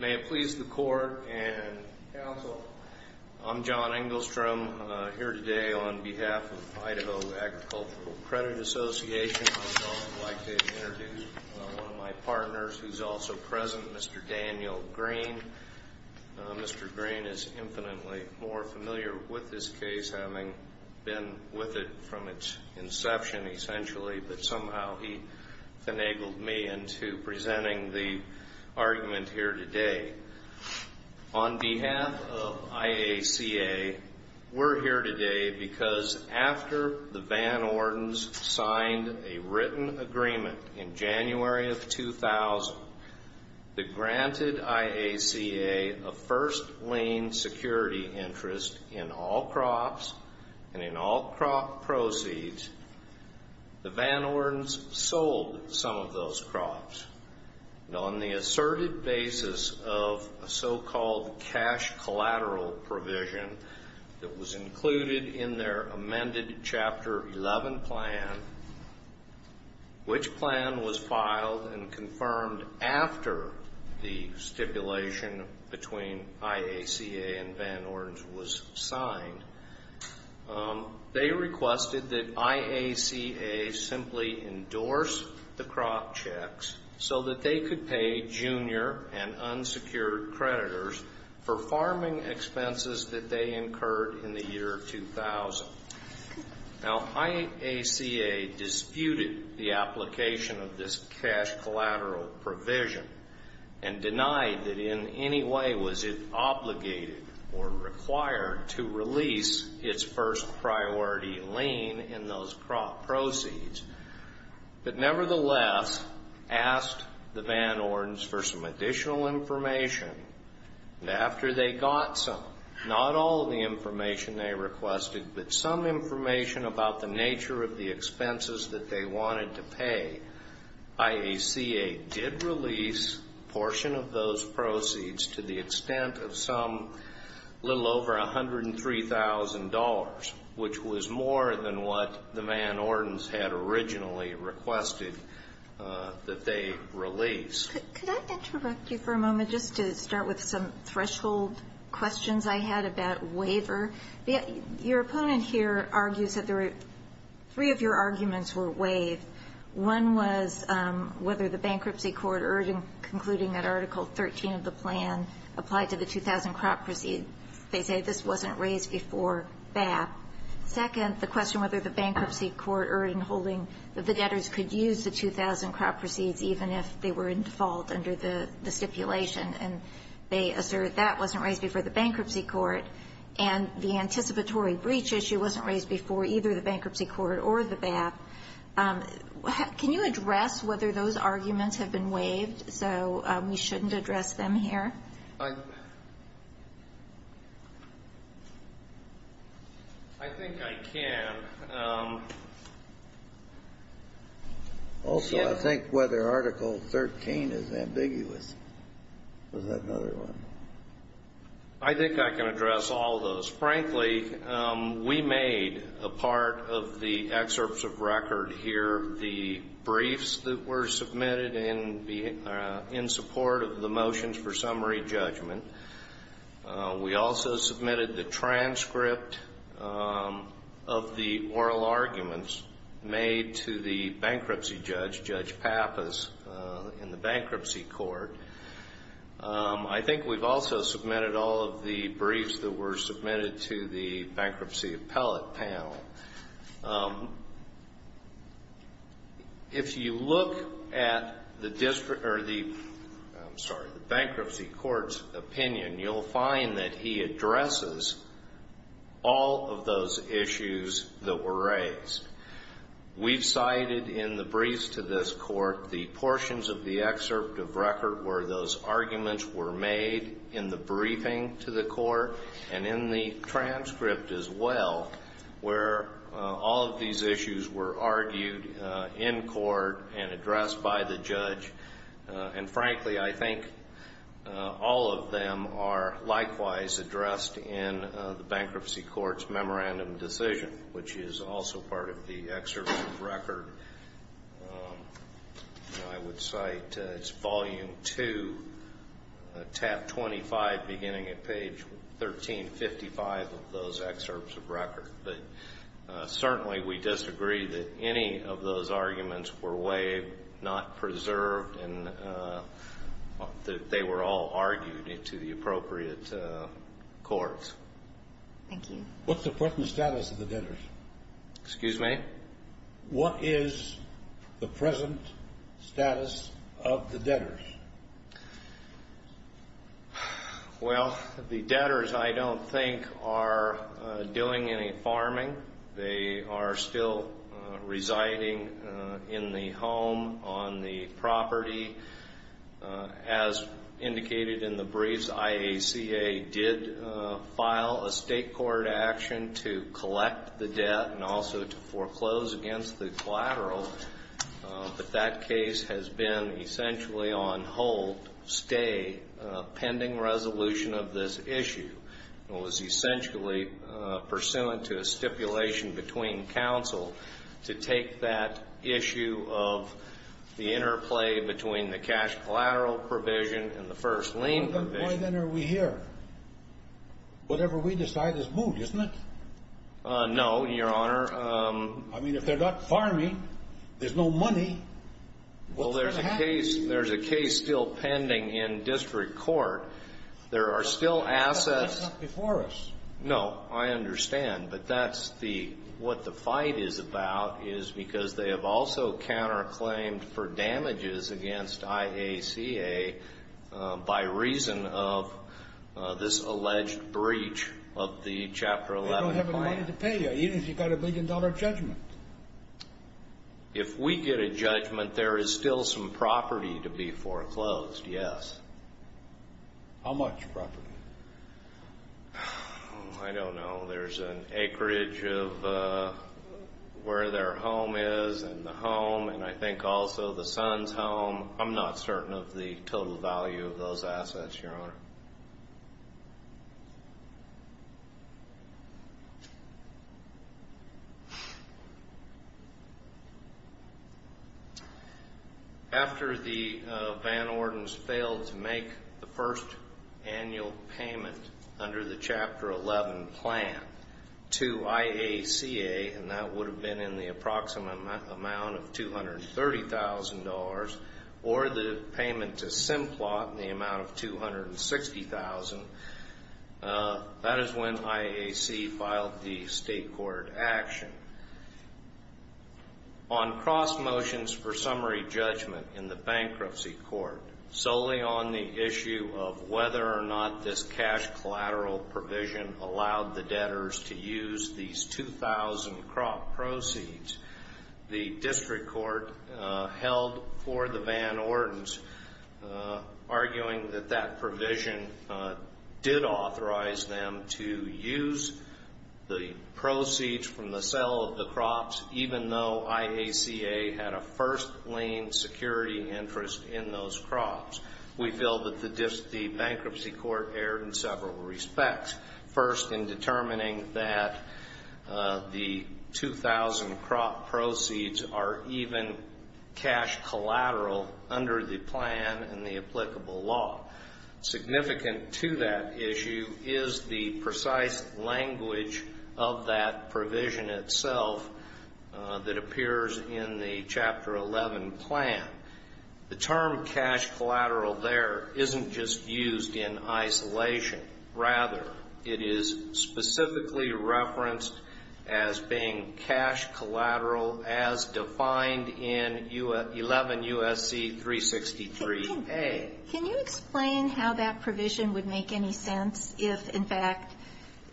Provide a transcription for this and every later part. May it please the court and counsel, I'm John Engelstrom, here today on behalf of Idaho Agricultural Credit Association. I'd also like to introduce one of my partners, who's also present, Mr. Daniel Green. Mr. Green is infinitely more familiar with this case, having been with it from its inception, essentially, but somehow he found a way to enable me into presenting the argument here today. On behalf of IACA, we're here today because after the Van Ordens signed a written agreement in January of 2000 that granted IACA a first lien security interest in all crops and in all crop proceeds, the Van Ordens sold some of those crops. On the asserted basis of a so-called cash collateral provision that was included in their amended Chapter 11 plan, which plan was filed and confirmed after the stipulation between IACA and Van Ordens was signed, they requested that IACA simply endorse the crop checks so that they could pay junior and unsecured creditors for farming expenses that they incurred in the year 2000. Now, IACA disputed the application of this cash collateral provision and denied that in any way was it obligated or required to release its first priority lien in those crop proceeds, but nevertheless asked the Van Ordens for some additional information, and after they got some, not all the information they requested, but some information about the nature of the expenses that they wanted to pay, IACA did release a portion of those proceeds to the extent of some little over $103,000, which was more than what the Van Ordens had originally requested. Could I interrupt you for a moment just to start with some threshold questions I had about waiver? Your opponent here argues that three of your arguments were waived. One was whether the bankruptcy court urging concluding that Article 13 of the plan applied to the 2000 crop proceeds. They say this wasn't raised before BAP. Second, the question whether the bankruptcy court urging holding that the debtors could use the 2000 crop proceeds even if they were in default under the stipulation, and they assert that wasn't raised before the bankruptcy court, and the anticipatory breach issue wasn't raised before either the bankruptcy court or the BAP. Can you address whether those arguments have been waived so we shouldn't address them here? I think I can. Also, I think whether Article 13 is ambiguous. Was that another one? I think I can address all those. Frankly, we made a part of the excerpts of record here the briefs that were submitted in support of the motions for summary judgment. We also submitted the transcript of the oral arguments made to the bankruptcy judge, Judge Pappas, in the bankruptcy court. I think we've also submitted all of the briefs that were submitted to the bankruptcy appellate panel. If you look at the bankruptcy court's opinion, you'll find that he addresses all of those issues that were raised. We've cited in the briefs to this court the portions of the excerpt of record where those arguments were made in the briefing to the court, and in the transcript as well, where all of these issues were argued in court and addressed by the judge. And frankly, I think all of them are likewise addressed in the bankruptcy court's memorandum decision, which is also part of the excerpt of record. I would cite, it's volume two, tab 25, beginning at page 1355 of those excerpts of record. But certainly we disagree that any of those arguments were waived, not preserved, and that they were all argued into the appropriate courts. Thank you. What's the present status of the debtors? Excuse me? What is the present status of the debtors? Well, the debtors, I don't think, are doing any farming. They are still residing in the home on the property. As indicated in the briefs, IACA did file a state court action to collect the debt and also to foreclose against the collateral. But that case has been essentially on hold, stay, pending resolution of this issue. It was essentially pursuant to a stipulation between counsel to take that issue of the interplay between the cash collateral provision and the first lien provision. Then why are we here? Whatever we decide is moved, isn't it? No, Your Honor. I mean, if they're not farming, there's no money, what's going to happen? Well, there's a case still pending in district court. There are still assets. That's not before us. No, I understand. But that's what the fight is about, is because they have also counterclaimed for damages against IACA by reason of this alleged breach of the Chapter 11. They don't have any money to pay you, even if you've got a billion-dollar judgment. If we get a judgment, there is still some property to be foreclosed, yes. How much property? I don't know. There's an acreage of where their home is and the home and I think also the son's home. I'm not certain of the total value of those assets, Your Honor. After the Van Ordens failed to make the first annual payment under the Chapter 11 plan to IACA, and that would have been in the approximate amount of $230,000 or the payment to Simplot in the amount of $260,000, that is when IACA filed the state court action. On cross motions for summary judgment in the bankruptcy court, solely on the issue of whether or not this cash collateral provision allowed the debtors to use these 2,000 crop proceeds, the district court held for the Van Ordens, arguing that that provision did authorize them to use the proceeds from the sale of the crops, even though IACA had a first-lane security interest in those crops. We feel that the bankruptcy court erred in several respects. First, in determining that the 2,000 crop proceeds are even cash collateral under the plan and the applicable law. Significant to that issue is the precise language of that provision itself that appears in the Chapter 11 plan. The term cash collateral there isn't just used in isolation. Rather, it is specifically referenced as being cash collateral as defined in 11 U.S.C. 363a. Can you explain how that provision would make any sense if, in fact,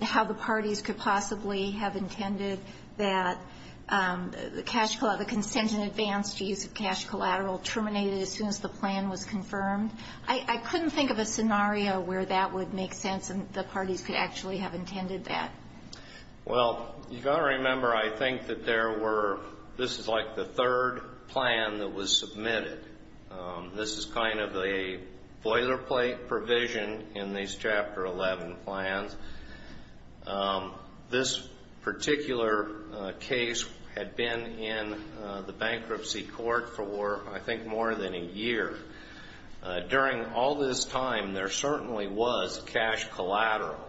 how the parties could possibly have intended that the consent in advance to use of cash collateral terminated as soon as the plan was confirmed? I couldn't think of a scenario where that would make sense and the parties could actually have intended that. Well, you've got to remember, I think, that there were this is like the third plan that was submitted. This is kind of a boilerplate provision in these Chapter 11 plans. This particular case had been in the bankruptcy court for, I think, more than a year. During all this time, there certainly was cash collateral,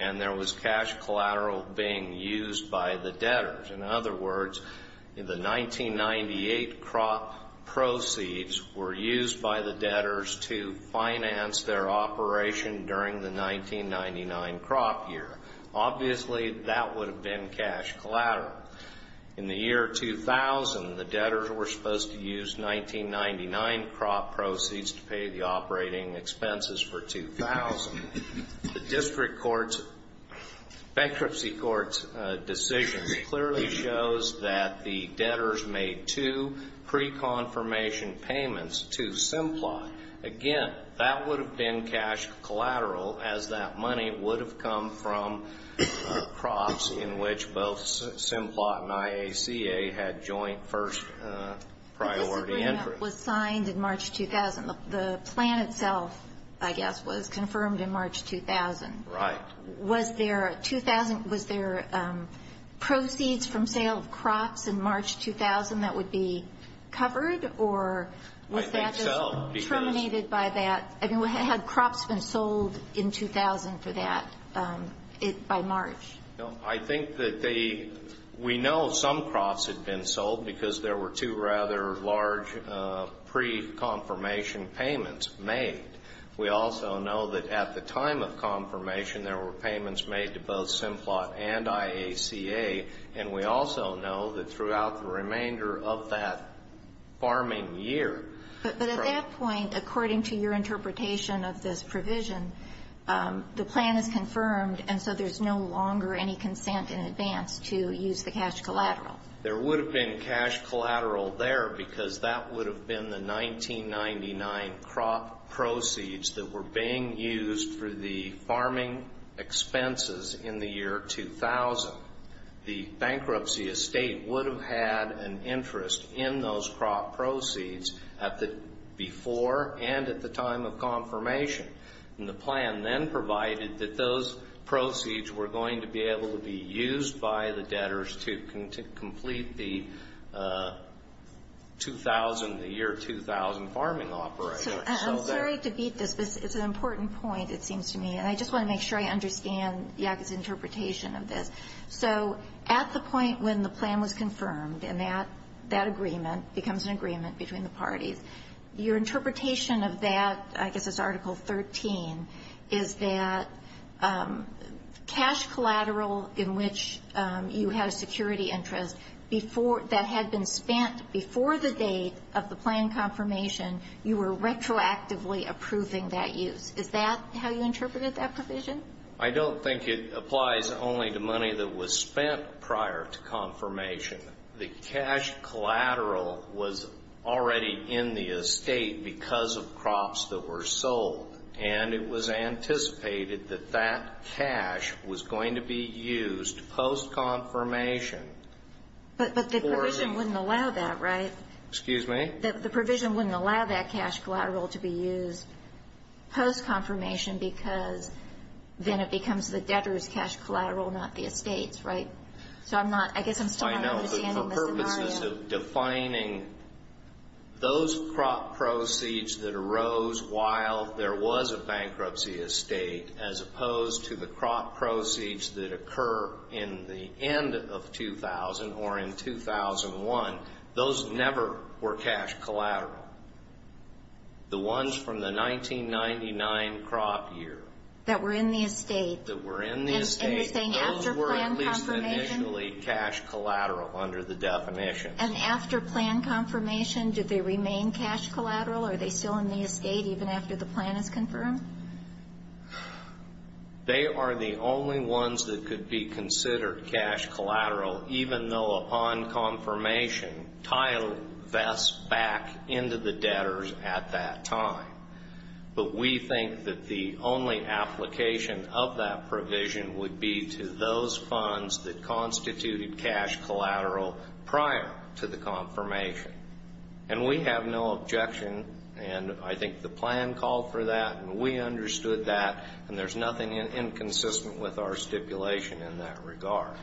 and there was cash collateral being used by the debtors. In other words, the 1998 crop proceeds were used by the debtors to finance their operation during the 1999 crop year. Obviously, that would have been cash collateral. In the year 2000, the debtors were supposed to use 1999 crop proceeds to pay the operating expenses for 2000. The district court's bankruptcy court's decisions clearly shows that the debtors made two pre-confirmation payments to Simplot. Again, that would have been cash collateral, as that money would have come from crops in which both Simplot and IACA had joint first-priority entry. It was signed in March 2000. The plan itself, I guess, was confirmed in March 2000. Right. Was there a 2000? Was there proceeds from sale of crops in March 2000 that would be covered, or was that just terminated by that? I mean, had crops been sold in 2000 for that by March? No. I think that they we know some crops had been sold because there were two rather large pre-confirmation payments made. We also know that at the time of confirmation, there were payments made to both Simplot and IACA, and we also know that throughout the remainder of that farming year. But at that point, according to your interpretation of this provision, the plan is confirmed, and so there's no longer any consent in advance to use the cash collateral. There would have been cash collateral there because that would have been the 1999 crop proceeds that were being used for the farming expenses in the year 2000. The bankruptcy estate would have had an interest in those crop proceeds before and at the time of confirmation, and the plan then provided that those proceeds were going to be able to be used by the debtors to complete the year 2000 farming operator. I'm sorry to beat this, but it's an important point, it seems to me, and I just want to make sure I understand IACA's interpretation of this. So at the point when the plan was confirmed and that agreement becomes an agreement between the parties, your interpretation of that, I guess it's Article 13, is that cash collateral in which you had a security interest that had been spent before the date of the plan confirmation, you were retroactively approving that use. Is that how you interpreted that provision? I don't think it applies only to money that was spent prior to confirmation. The cash collateral was already in the estate because of crops that were sold, and it was anticipated that that cash was going to be used post-confirmation. But the provision wouldn't allow that, right? Excuse me? The provision wouldn't allow that cash collateral to be used post-confirmation because then it becomes the debtors' cash collateral, not the estate's, right? So I guess I'm still not understanding the scenario. I know, but for purposes of defining those crop proceeds that arose while there was a bankruptcy estate as opposed to the crop proceeds that occur in the end of 2000 or in 2001, those never were cash collateral. The ones from the 1999 crop year. That were in the estate. That were in the estate. And you're saying after plan confirmation? Those were at least initially cash collateral under the definition. And after plan confirmation, did they remain cash collateral? Are they still in the estate even after the plan is confirmed? They are the only ones that could be considered cash collateral, even though upon confirmation title vests back into the debtors at that time. But we think that the only application of that provision would be to those funds that constituted cash collateral prior to the confirmation. And we have no objection, and I think the plan called for that, and we understood that, and there's nothing inconsistent with our stipulation in that regard.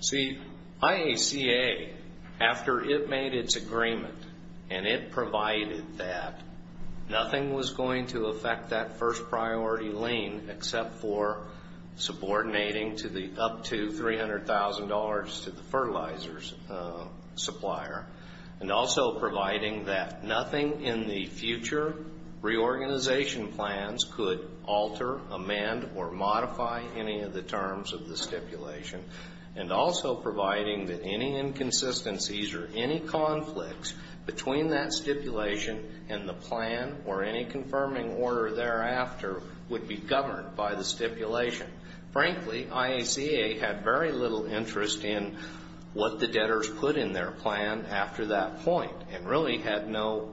See, IACA, after it made its agreement and it provided that, nothing was going to affect that first priority lien except for subordinating up to $300,000 to the fertilizers supplier. And also providing that nothing in the future reorganization plans could alter, amend, or modify any of the terms of the stipulation. And also providing that any inconsistencies or any conflicts between that stipulation and the plan or any confirming order thereafter would be governed by the stipulation. Frankly, IACA had very little interest in what the debtors put in their plan after that point and really had no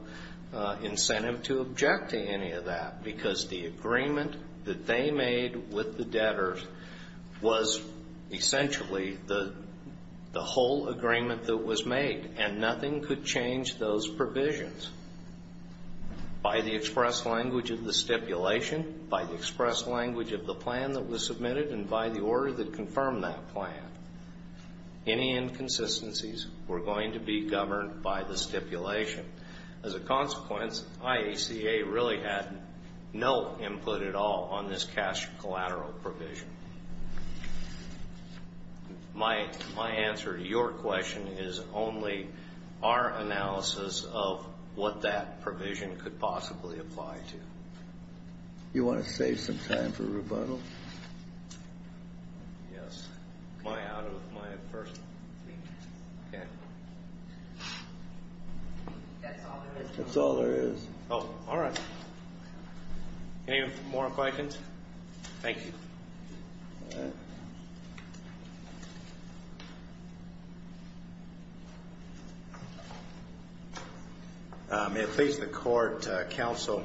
incentive to object to any of that because the agreement that they made with the debtors was essentially the whole agreement that was made, and nothing could change those provisions. By the express language of the stipulation, by the express language of the plan that was submitted, and by the order that confirmed that plan, any inconsistencies were going to be governed by the stipulation. As a consequence, IACA really had no input at all on this cash collateral provision. My answer to your question is only our analysis of what that provision could possibly apply to. You want to save some time for rebuttal? Yes. Am I out of my first? That's all there is. Oh, all right. Any more questions? Thank you. May it please the Court, Counsel,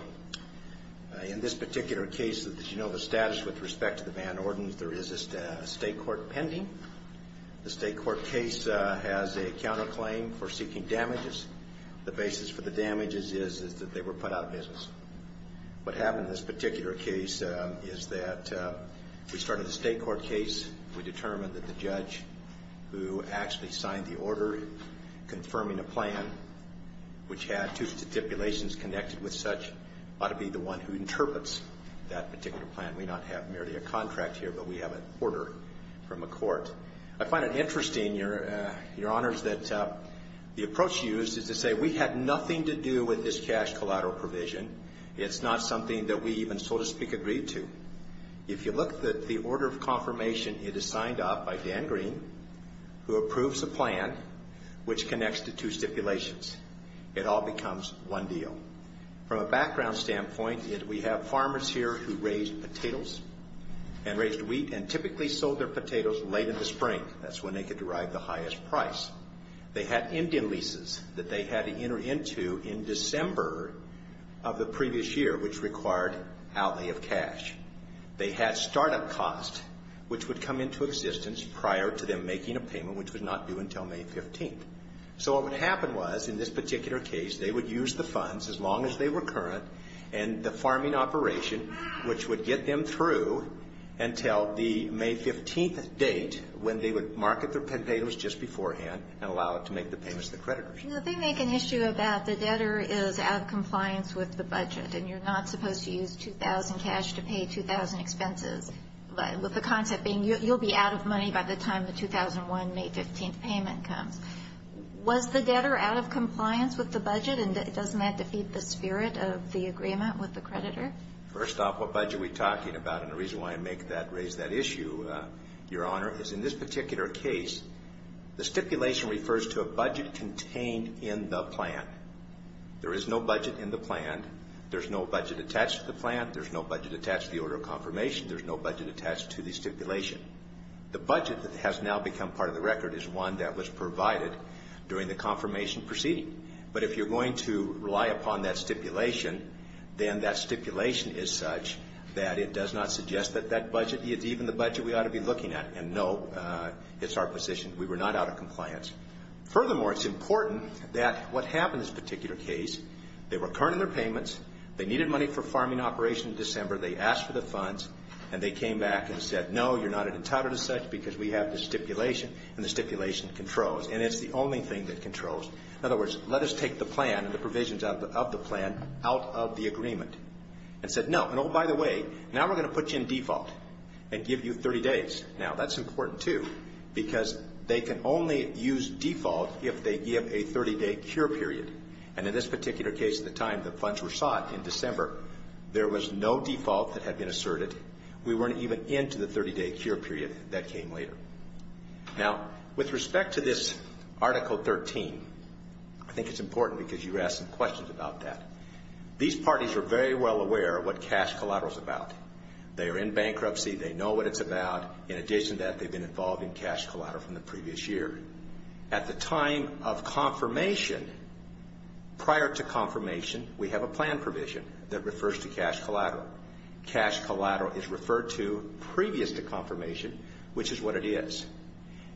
in this particular case, as you know the status with respect to the Van Orden, there is a state court pending. The state court case has a counterclaim for seeking damages. The basis for the damages is that they were put out of business. What happened in this particular case is that we started a state court case. We determined that the judge who actually signed the order confirming a plan, which had two stipulations connected with such, ought to be the one who interprets that particular plan. We don't have merely a contract here, but we have an order from a court. I find it interesting, Your Honors, that the approach used is to say we had nothing to do with this cash collateral provision. It's not something that we even, so to speak, agreed to. If you look at the order of confirmation, it is signed off by Dan Green, who approves the plan, which connects the two stipulations. It all becomes one deal. From a background standpoint, we have farmers here who raised potatoes and raised wheat and typically sold their potatoes late in the spring. That's when they could derive the highest price. They had Indian leases that they had to enter into in December of the previous year, which required outlay of cash. They had startup costs, which would come into existence prior to them making a payment, which was not due until May 15th. So what would happen was, in this particular case, they would use the funds as long as they were current, and the farming operation, which would get them through until the May 15th date, when they would market their potatoes just beforehand and allow it to make the payments to the creditors. The thing they can issue about the debtor is out of compliance with the budget, and you're not supposed to use 2,000 cash to pay 2,000 expenses, with the concept being you'll be out of money by the time the 2001 May 15th payment comes. Was the debtor out of compliance with the budget, and doesn't that defeat the spirit of the agreement with the creditor? First off, what budget are we talking about, and the reason why I make that, raise that issue, Your Honor, is in this particular case, the stipulation refers to a budget contained in the plan. There is no budget in the plan. There's no budget attached to the plan. There's no budget attached to the order of confirmation. There's no budget attached to the stipulation. The budget that has now become part of the record is one that was provided during the confirmation proceeding. But if you're going to rely upon that stipulation, then that stipulation is such that it does not suggest that that budget is even the budget we ought to be looking at. And, no, it's our position. We were not out of compliance. Furthermore, it's important that what happened in this particular case, they were returning their payments, they needed money for farming operation in December, they asked for the funds, and they came back and said, no, you're not entitled to such because we have the stipulation, and the stipulation controls, and it's the only thing that controls. In other words, let us take the plan and the provisions of the plan out of the agreement. And said, no, and oh, by the way, now we're going to put you in default and give you 30 days. Now, that's important, too, because they can only use default if they give a 30-day cure period. And in this particular case at the time the funds were sought in December, there was no default that had been asserted. We weren't even into the 30-day cure period that came later. Now, with respect to this Article 13, I think it's important because you asked some questions about that. These parties are very well aware of what cash collateral is about. They are in bankruptcy. They know what it's about. In addition to that, they've been involved in cash collateral from the previous year. At the time of confirmation, prior to confirmation, we have a plan provision that refers to cash collateral. Cash collateral is referred to previous to confirmation, which is what it is.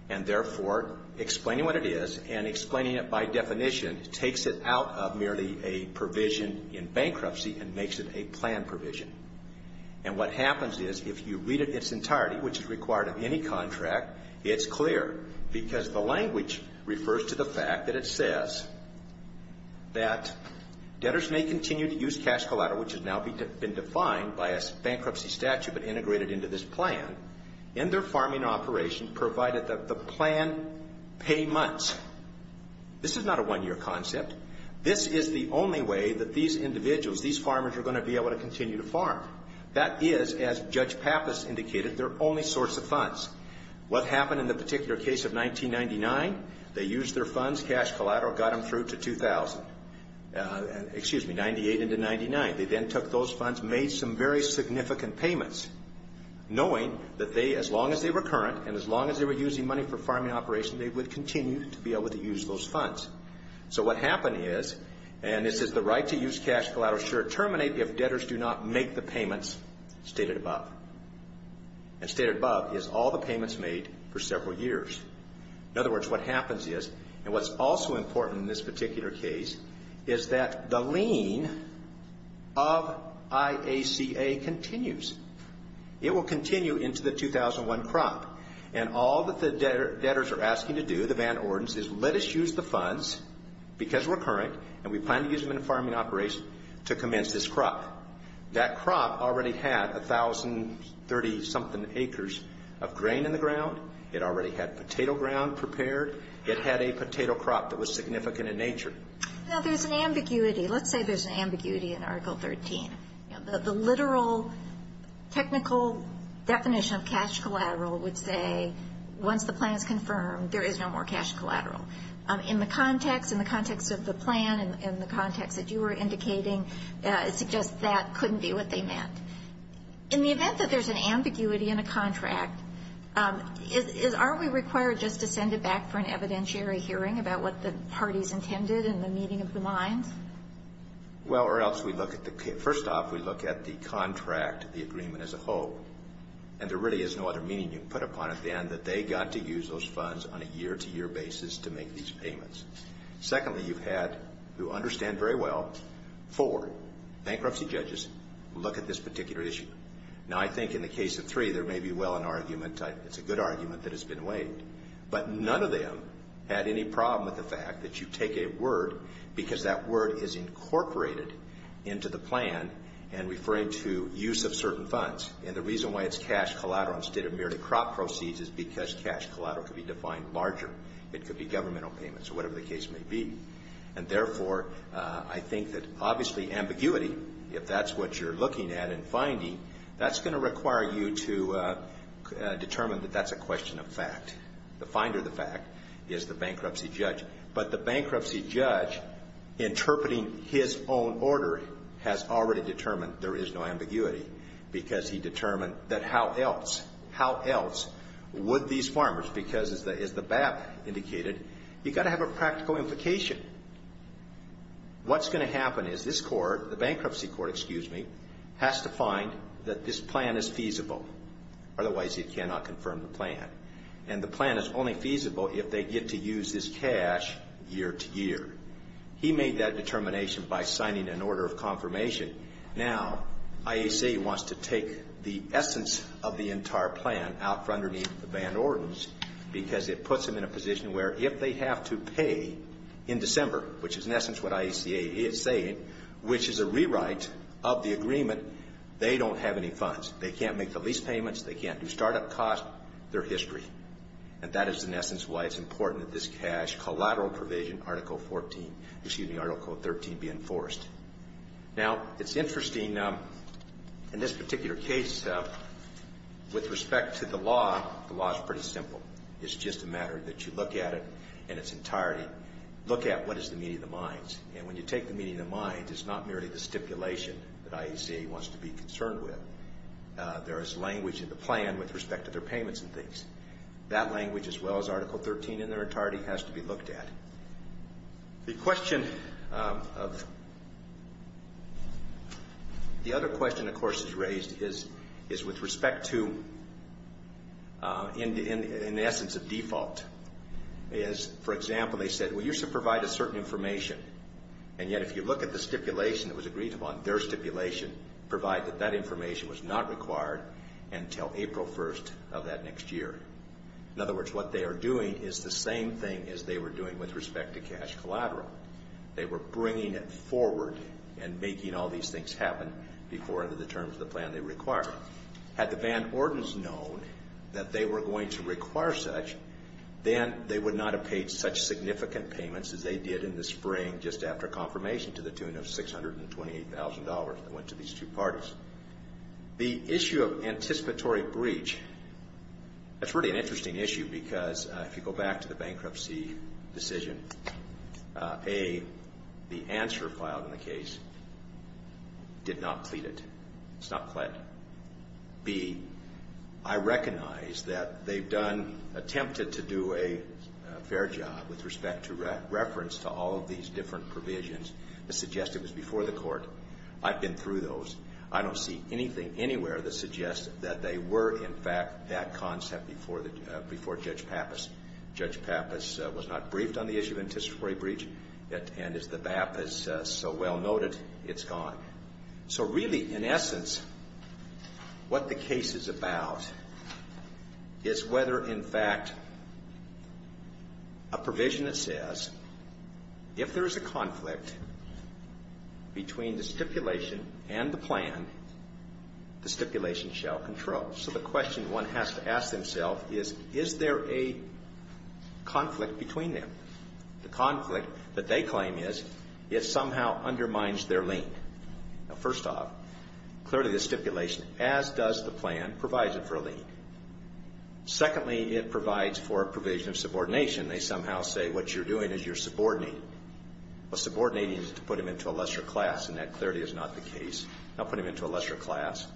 And therefore, explaining what it is and explaining it by definition takes it out of merely a provision in bankruptcy and makes it a plan provision. And what happens is if you read its entirety, which is required of any contract, it's clear because the language refers to the fact that it says that debtors may continue to use cash collateral, which has now been defined by a bankruptcy statute but integrated into this plan, in their farming operation provided that the plan pay months. This is not a one-year concept. This is the only way that these individuals, these farmers, are going to be able to continue to farm. That is, as Judge Pappas indicated, their only source of funds. What happened in the particular case of 1999? They used their funds. Cash collateral got them through to 2000, excuse me, 98 into 99. They then took those funds, made some very significant payments, knowing that they, as long as they were current and as long as they were using money for farming operations, they would continue to be able to use those funds. So what happened is, and this is the right to use cash collateral, should it terminate if debtors do not make the payments stated above. And stated above is all the payments made for several years. In other words, what happens is, and what's also important in this particular case, is that the lien of IACA continues. It will continue into the 2001 crop. And all that the debtors are asking to do, the banned ordinance, is let us use the funds because we're current and we plan to use them in a farming operation to commence this crop. That crop already had 1,030-something acres of grain in the ground. It already had potato ground prepared. It had a potato crop that was significant in nature. Now, there's an ambiguity. Let's say there's an ambiguity in Article 13. The literal technical definition of cash collateral would say, once the plan is confirmed, there is no more cash collateral. In the context of the plan and the context that you were indicating, it suggests that couldn't be what they meant. In the event that there's an ambiguity in a contract, aren't we required just to send it back for an evidentiary hearing about what the parties intended in the meeting of the minds? Well, first off, we look at the contract, the agreement as a whole, and there really is no other meaning you can put upon it than that they got to use those funds on a year-to-year basis to make these payments. Secondly, you've had, who understand very well, four bankruptcy judges look at this particular issue. Now, I think in the case of three, there may be well an argument. It's a good argument that has been weighed. But none of them had any problem with the fact that you take a word because that word is incorporated into the plan and referring to use of certain funds. And the reason why it's cash collateral instead of merely crop proceeds is because cash collateral could be defined larger. It could be governmental payments or whatever the case may be. And therefore, I think that obviously ambiguity, if that's what you're looking at and finding, that's going to require you to determine that that's a question of fact. The finder of the fact is the bankruptcy judge. But the bankruptcy judge, interpreting his own order, has already determined there is no ambiguity because he determined that how else, how else would these farmers, because as the BAP indicated, you've got to have a practical implication. What's going to happen is this court, the bankruptcy court, excuse me, has to find that this plan is feasible. Otherwise, he cannot confirm the plan. And the plan is only feasible if they get to use his cash year to year. He made that determination by signing an order of confirmation. Now, IACA wants to take the essence of the entire plan out from underneath the Van Ordens because it puts them in a position where if they have to pay in December, which is in essence what IACA is saying, which is a rewrite of the agreement, they don't have any funds. They can't make the lease payments. They can't do startup costs. They're history. And that is in essence why it's important that this cash collateral provision, Article 14, excuse me, Article 13, be enforced. Now, it's interesting in this particular case with respect to the law, the law is pretty simple. It's just a matter that you look at it in its entirety. Look at what is the meaning of the mines. And when you take the meaning of the mines, it's not merely the stipulation that IACA wants to be concerned with. There is language in the plan with respect to their payments and things. That language, as well as Article 13 in their entirety, has to be looked at. The question of the other question, of course, is raised, is with respect to in the essence of default. For example, they said we used to provide a certain information, and yet if you look at the stipulation that was agreed upon, their stipulation provided that that information was not required until April 1st of that next year. In other words, what they are doing is the same thing as they were doing with respect to cash collateral. They were bringing it forward and making all these things happen before under the terms of the plan they required. Had the Van Ordens known that they were going to require such, then they would not have paid such significant payments as they did in the spring just after confirmation to the tune of $628,000 that went to these two parties. The issue of anticipatory breach, that's really an interesting issue because if you go back to the bankruptcy decision, A, the answer filed in the case did not plead it. It's not pled. B, I recognize that they've attempted to do a fair job with respect to reference to all of these different provisions that suggest it was before the court. I've been through those. I don't see anything anywhere that suggests that they were, in fact, that concept before Judge Pappas. Judge Pappas was not briefed on the issue of anticipatory breach, and as the BAP has so well noted, it's gone. So really, in essence, what the case is about is whether, in fact, a provision that says if there is a conflict between the stipulation and the plan, the stipulation shall control. So the question one has to ask themselves is, is there a conflict between them? The conflict that they claim is it somehow undermines their lien. Now, first off, clearly the stipulation, as does the plan, provides it for a lien. Secondly, it provides for a provision of subordination. They somehow say what you're doing is you're subordinating. Well, subordinating is to put them into a lesser class, and that clearly is not the case. Not put them into a lesser class.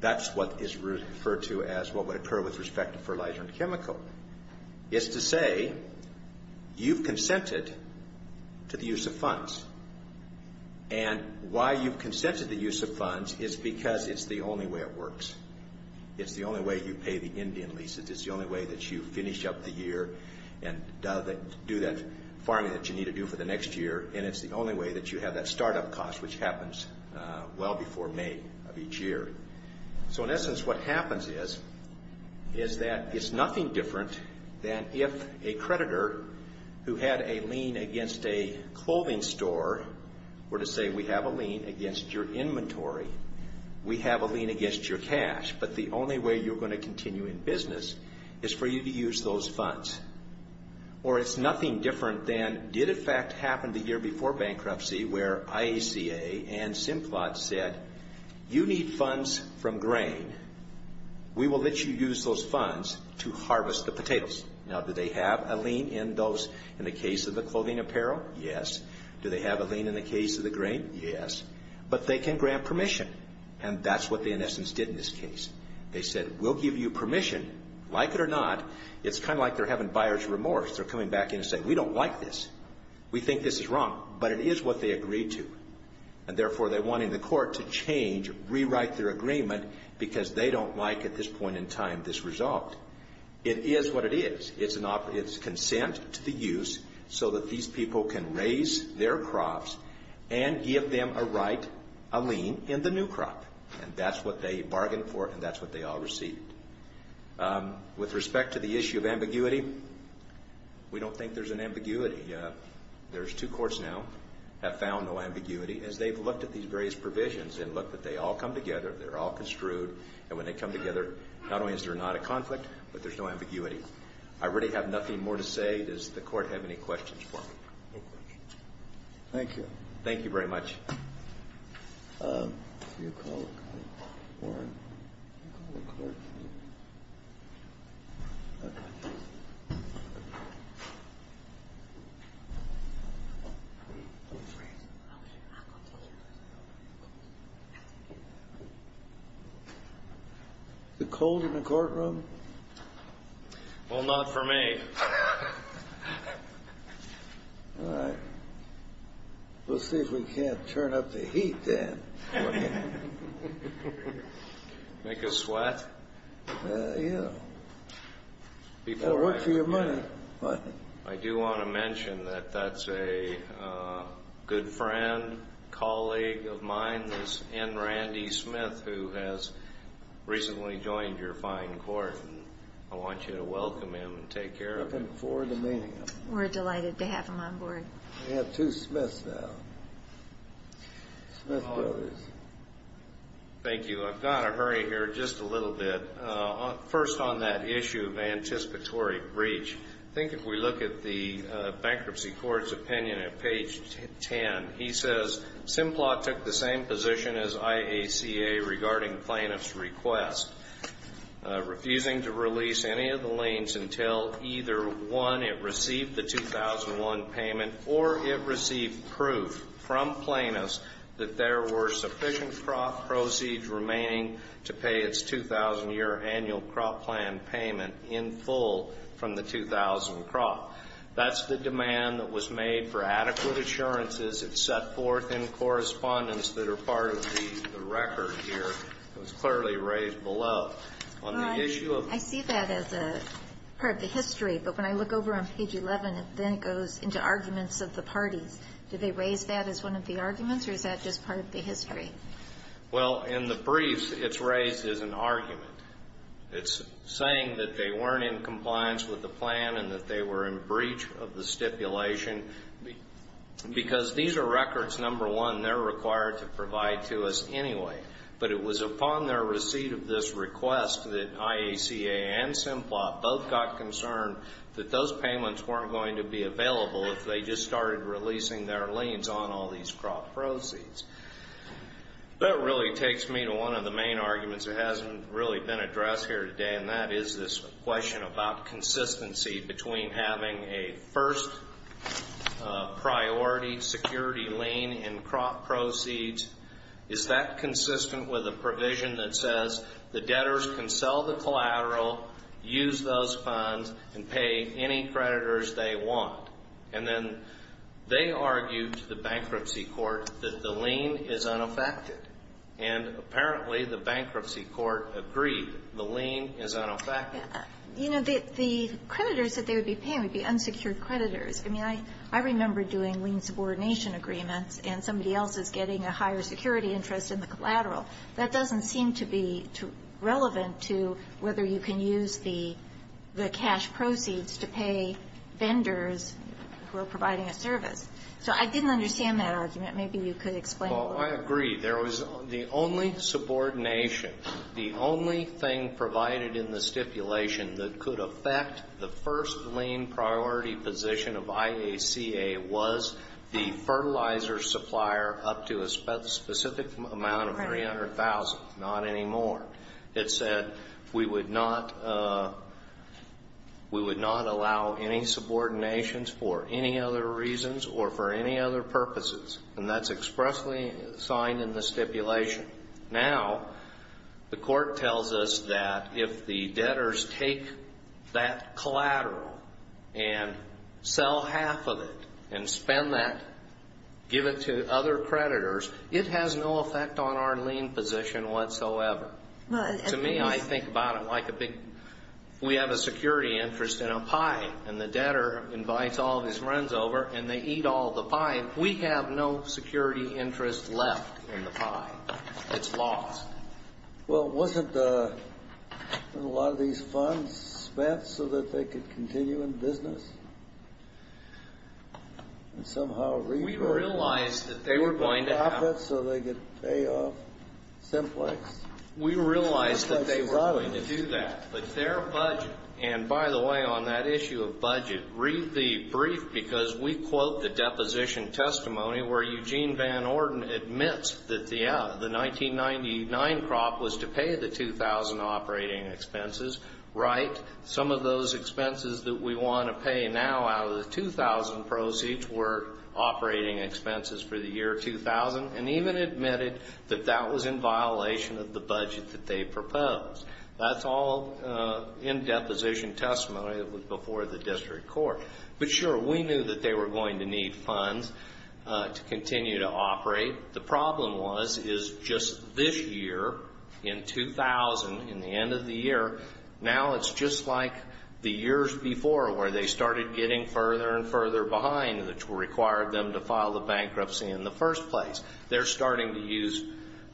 That's what is referred to as what would occur with respect to fertilizer and chemical, is to say you've consented to the use of funds. And why you've consented to the use of funds is because it's the only way it works. It's the only way you pay the Indian leases. It's the only way that you finish up the year and do that farming that you need to do for the next year, and it's the only way that you have that start-up cost, which happens well before May of each year. So, in essence, what happens is, is that it's nothing different than if a creditor who had a lien against a clothing store were to say we have a lien against your inventory, we have a lien against your cash, but the only way you're going to continue in business is for you to use those funds. Or it's nothing different than did, in fact, happen the year before bankruptcy, where IACA and Simplot said you need funds from grain. We will let you use those funds to harvest the potatoes. Now, do they have a lien in those, in the case of the clothing apparel? Yes. Do they have a lien in the case of the grain? Yes. But they can grant permission, and that's what they, in essence, did in this case. They said we'll give you permission, like it or not. It's kind of like they're having buyer's remorse. They're coming back in and saying we don't like this. We think this is wrong, but it is what they agreed to. And, therefore, they're wanting the court to change, rewrite their agreement, because they don't like, at this point in time, this result. It is what it is. It's consent to the use so that these people can raise their crops and give them a right, a lien, in the new crop. And that's what they bargained for, and that's what they all received. With respect to the issue of ambiguity, we don't think there's an ambiguity. There's two courts now that found no ambiguity. As they've looked at these various provisions and looked that they all come together, they're all construed, and when they come together, not only is there not a conflict, but there's no ambiguity. I really have nothing more to say. Does the court have any questions for me? No questions. Thank you. Thank you very much. Can you call the court? Is it cold in the courtroom? Well, not for me. All right. We'll see if we can't turn up the heat then. Make us sweat? Yeah. Or work for your money. I do want to mention that that's a good friend, colleague of mine. This is N. Randy Smith, who has recently joined your fine court, and I want you to welcome him and take care of him. We're delighted to have him on board. We have two Smiths now, Smith brothers. Thank you. I've got to hurry here just a little bit. First, on that issue of anticipatory breach, I think if we look at the bankruptcy court's opinion at page 10, he says, Simplot took the same position as IACA regarding plaintiff's request, refusing to release any of the liens until either, one, it received the 2001 payment, or it received proof from plaintiffs that there were sufficient proceeds remaining to pay its 2,000-year annual crop plan payment in full from the 2,000 crop. That's the demand that was made for adequate assurances. It's set forth in correspondence that are part of the record here. It was clearly raised below. I see that as part of the history, but when I look over on page 11, then it goes into arguments of the parties. Did they raise that as one of the arguments, or is that just part of the history? Well, in the briefs, it's raised as an argument. It's saying that they weren't in compliance with the plan and that they were in breach of the stipulation, because these are records, number one, they're required to provide to us anyway, but it was upon their receipt of this request that IACA and Simplot both got concerned that those payments weren't going to be available if they just started releasing their liens on all these crop proceeds. That really takes me to one of the main arguments that hasn't really been addressed here today, and that is this question about consistency between having a first-priority security lien and crop proceeds. Is that consistent with a provision that says the debtors can sell the collateral, use those funds, and pay any creditors they want? And then they argued to the bankruptcy court that the lien is unaffected, and apparently the bankruptcy court agreed the lien is unaffected. You know, the creditors that they would be paying would be unsecured creditors. I mean, I remember doing lien subordination agreements and somebody else is getting a higher security interest in the collateral. That doesn't seem to be relevant to whether you can use the cash proceeds to pay vendors who are providing a service. So I didn't understand that argument. Maybe you could explain a little bit. Well, I agree. There was the only subordination, the only thing provided in the stipulation that could affect the first lien priority position of IACA was the fertilizer supplier up to a specific amount of $300,000, not any more. It said we would not allow any subordinations for any other reasons or for any other purposes, and that's expressly signed in the stipulation. Now, the court tells us that if the debtors take that collateral and sell half of it and spend that, give it to other creditors, it has no effect on our lien position whatsoever. To me, I think about it like a big we have a security interest in a pie, and the debtor invites all of his friends over and they eat all the pie. We have no security interest left in the pie. It's lost. Well, wasn't a lot of these funds spent so that they could continue in business? And somehow revert. We realized that they were going to have. So they could pay off simplex. We realized that they were going to do that. But their budget, and by the way, on that issue of budget, read the brief because we quote the deposition testimony where Eugene Van Orden admits that the 1999 crop was to pay the 2,000 operating expenses. Right. Some of those expenses that we want to pay now out of the 2,000 proceeds were operating expenses for the year 2000, and even admitted that that was in violation of the budget that they proposed. That's all in deposition testimony that was before the district court. But, sure, we knew that they were going to need funds to continue to operate. The problem was is just this year, in 2000, in the end of the year, now it's just like the years before where they started getting further and further behind which required them to file the bankruptcy in the first place. They're starting to use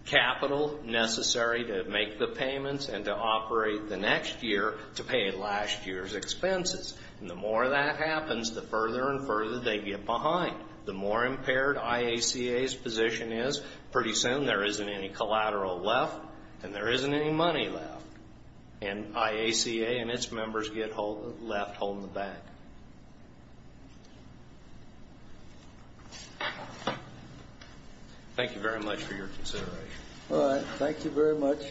capital necessary to make the payments and to operate the next year to pay last year's expenses. And the more that happens, the further and further they get behind. The more impaired IACA's position is, pretty soon there isn't any collateral left and there isn't any money left. And IACA and its members get left holding the bag. Thank you very much for your consideration. All right. Thank you very much.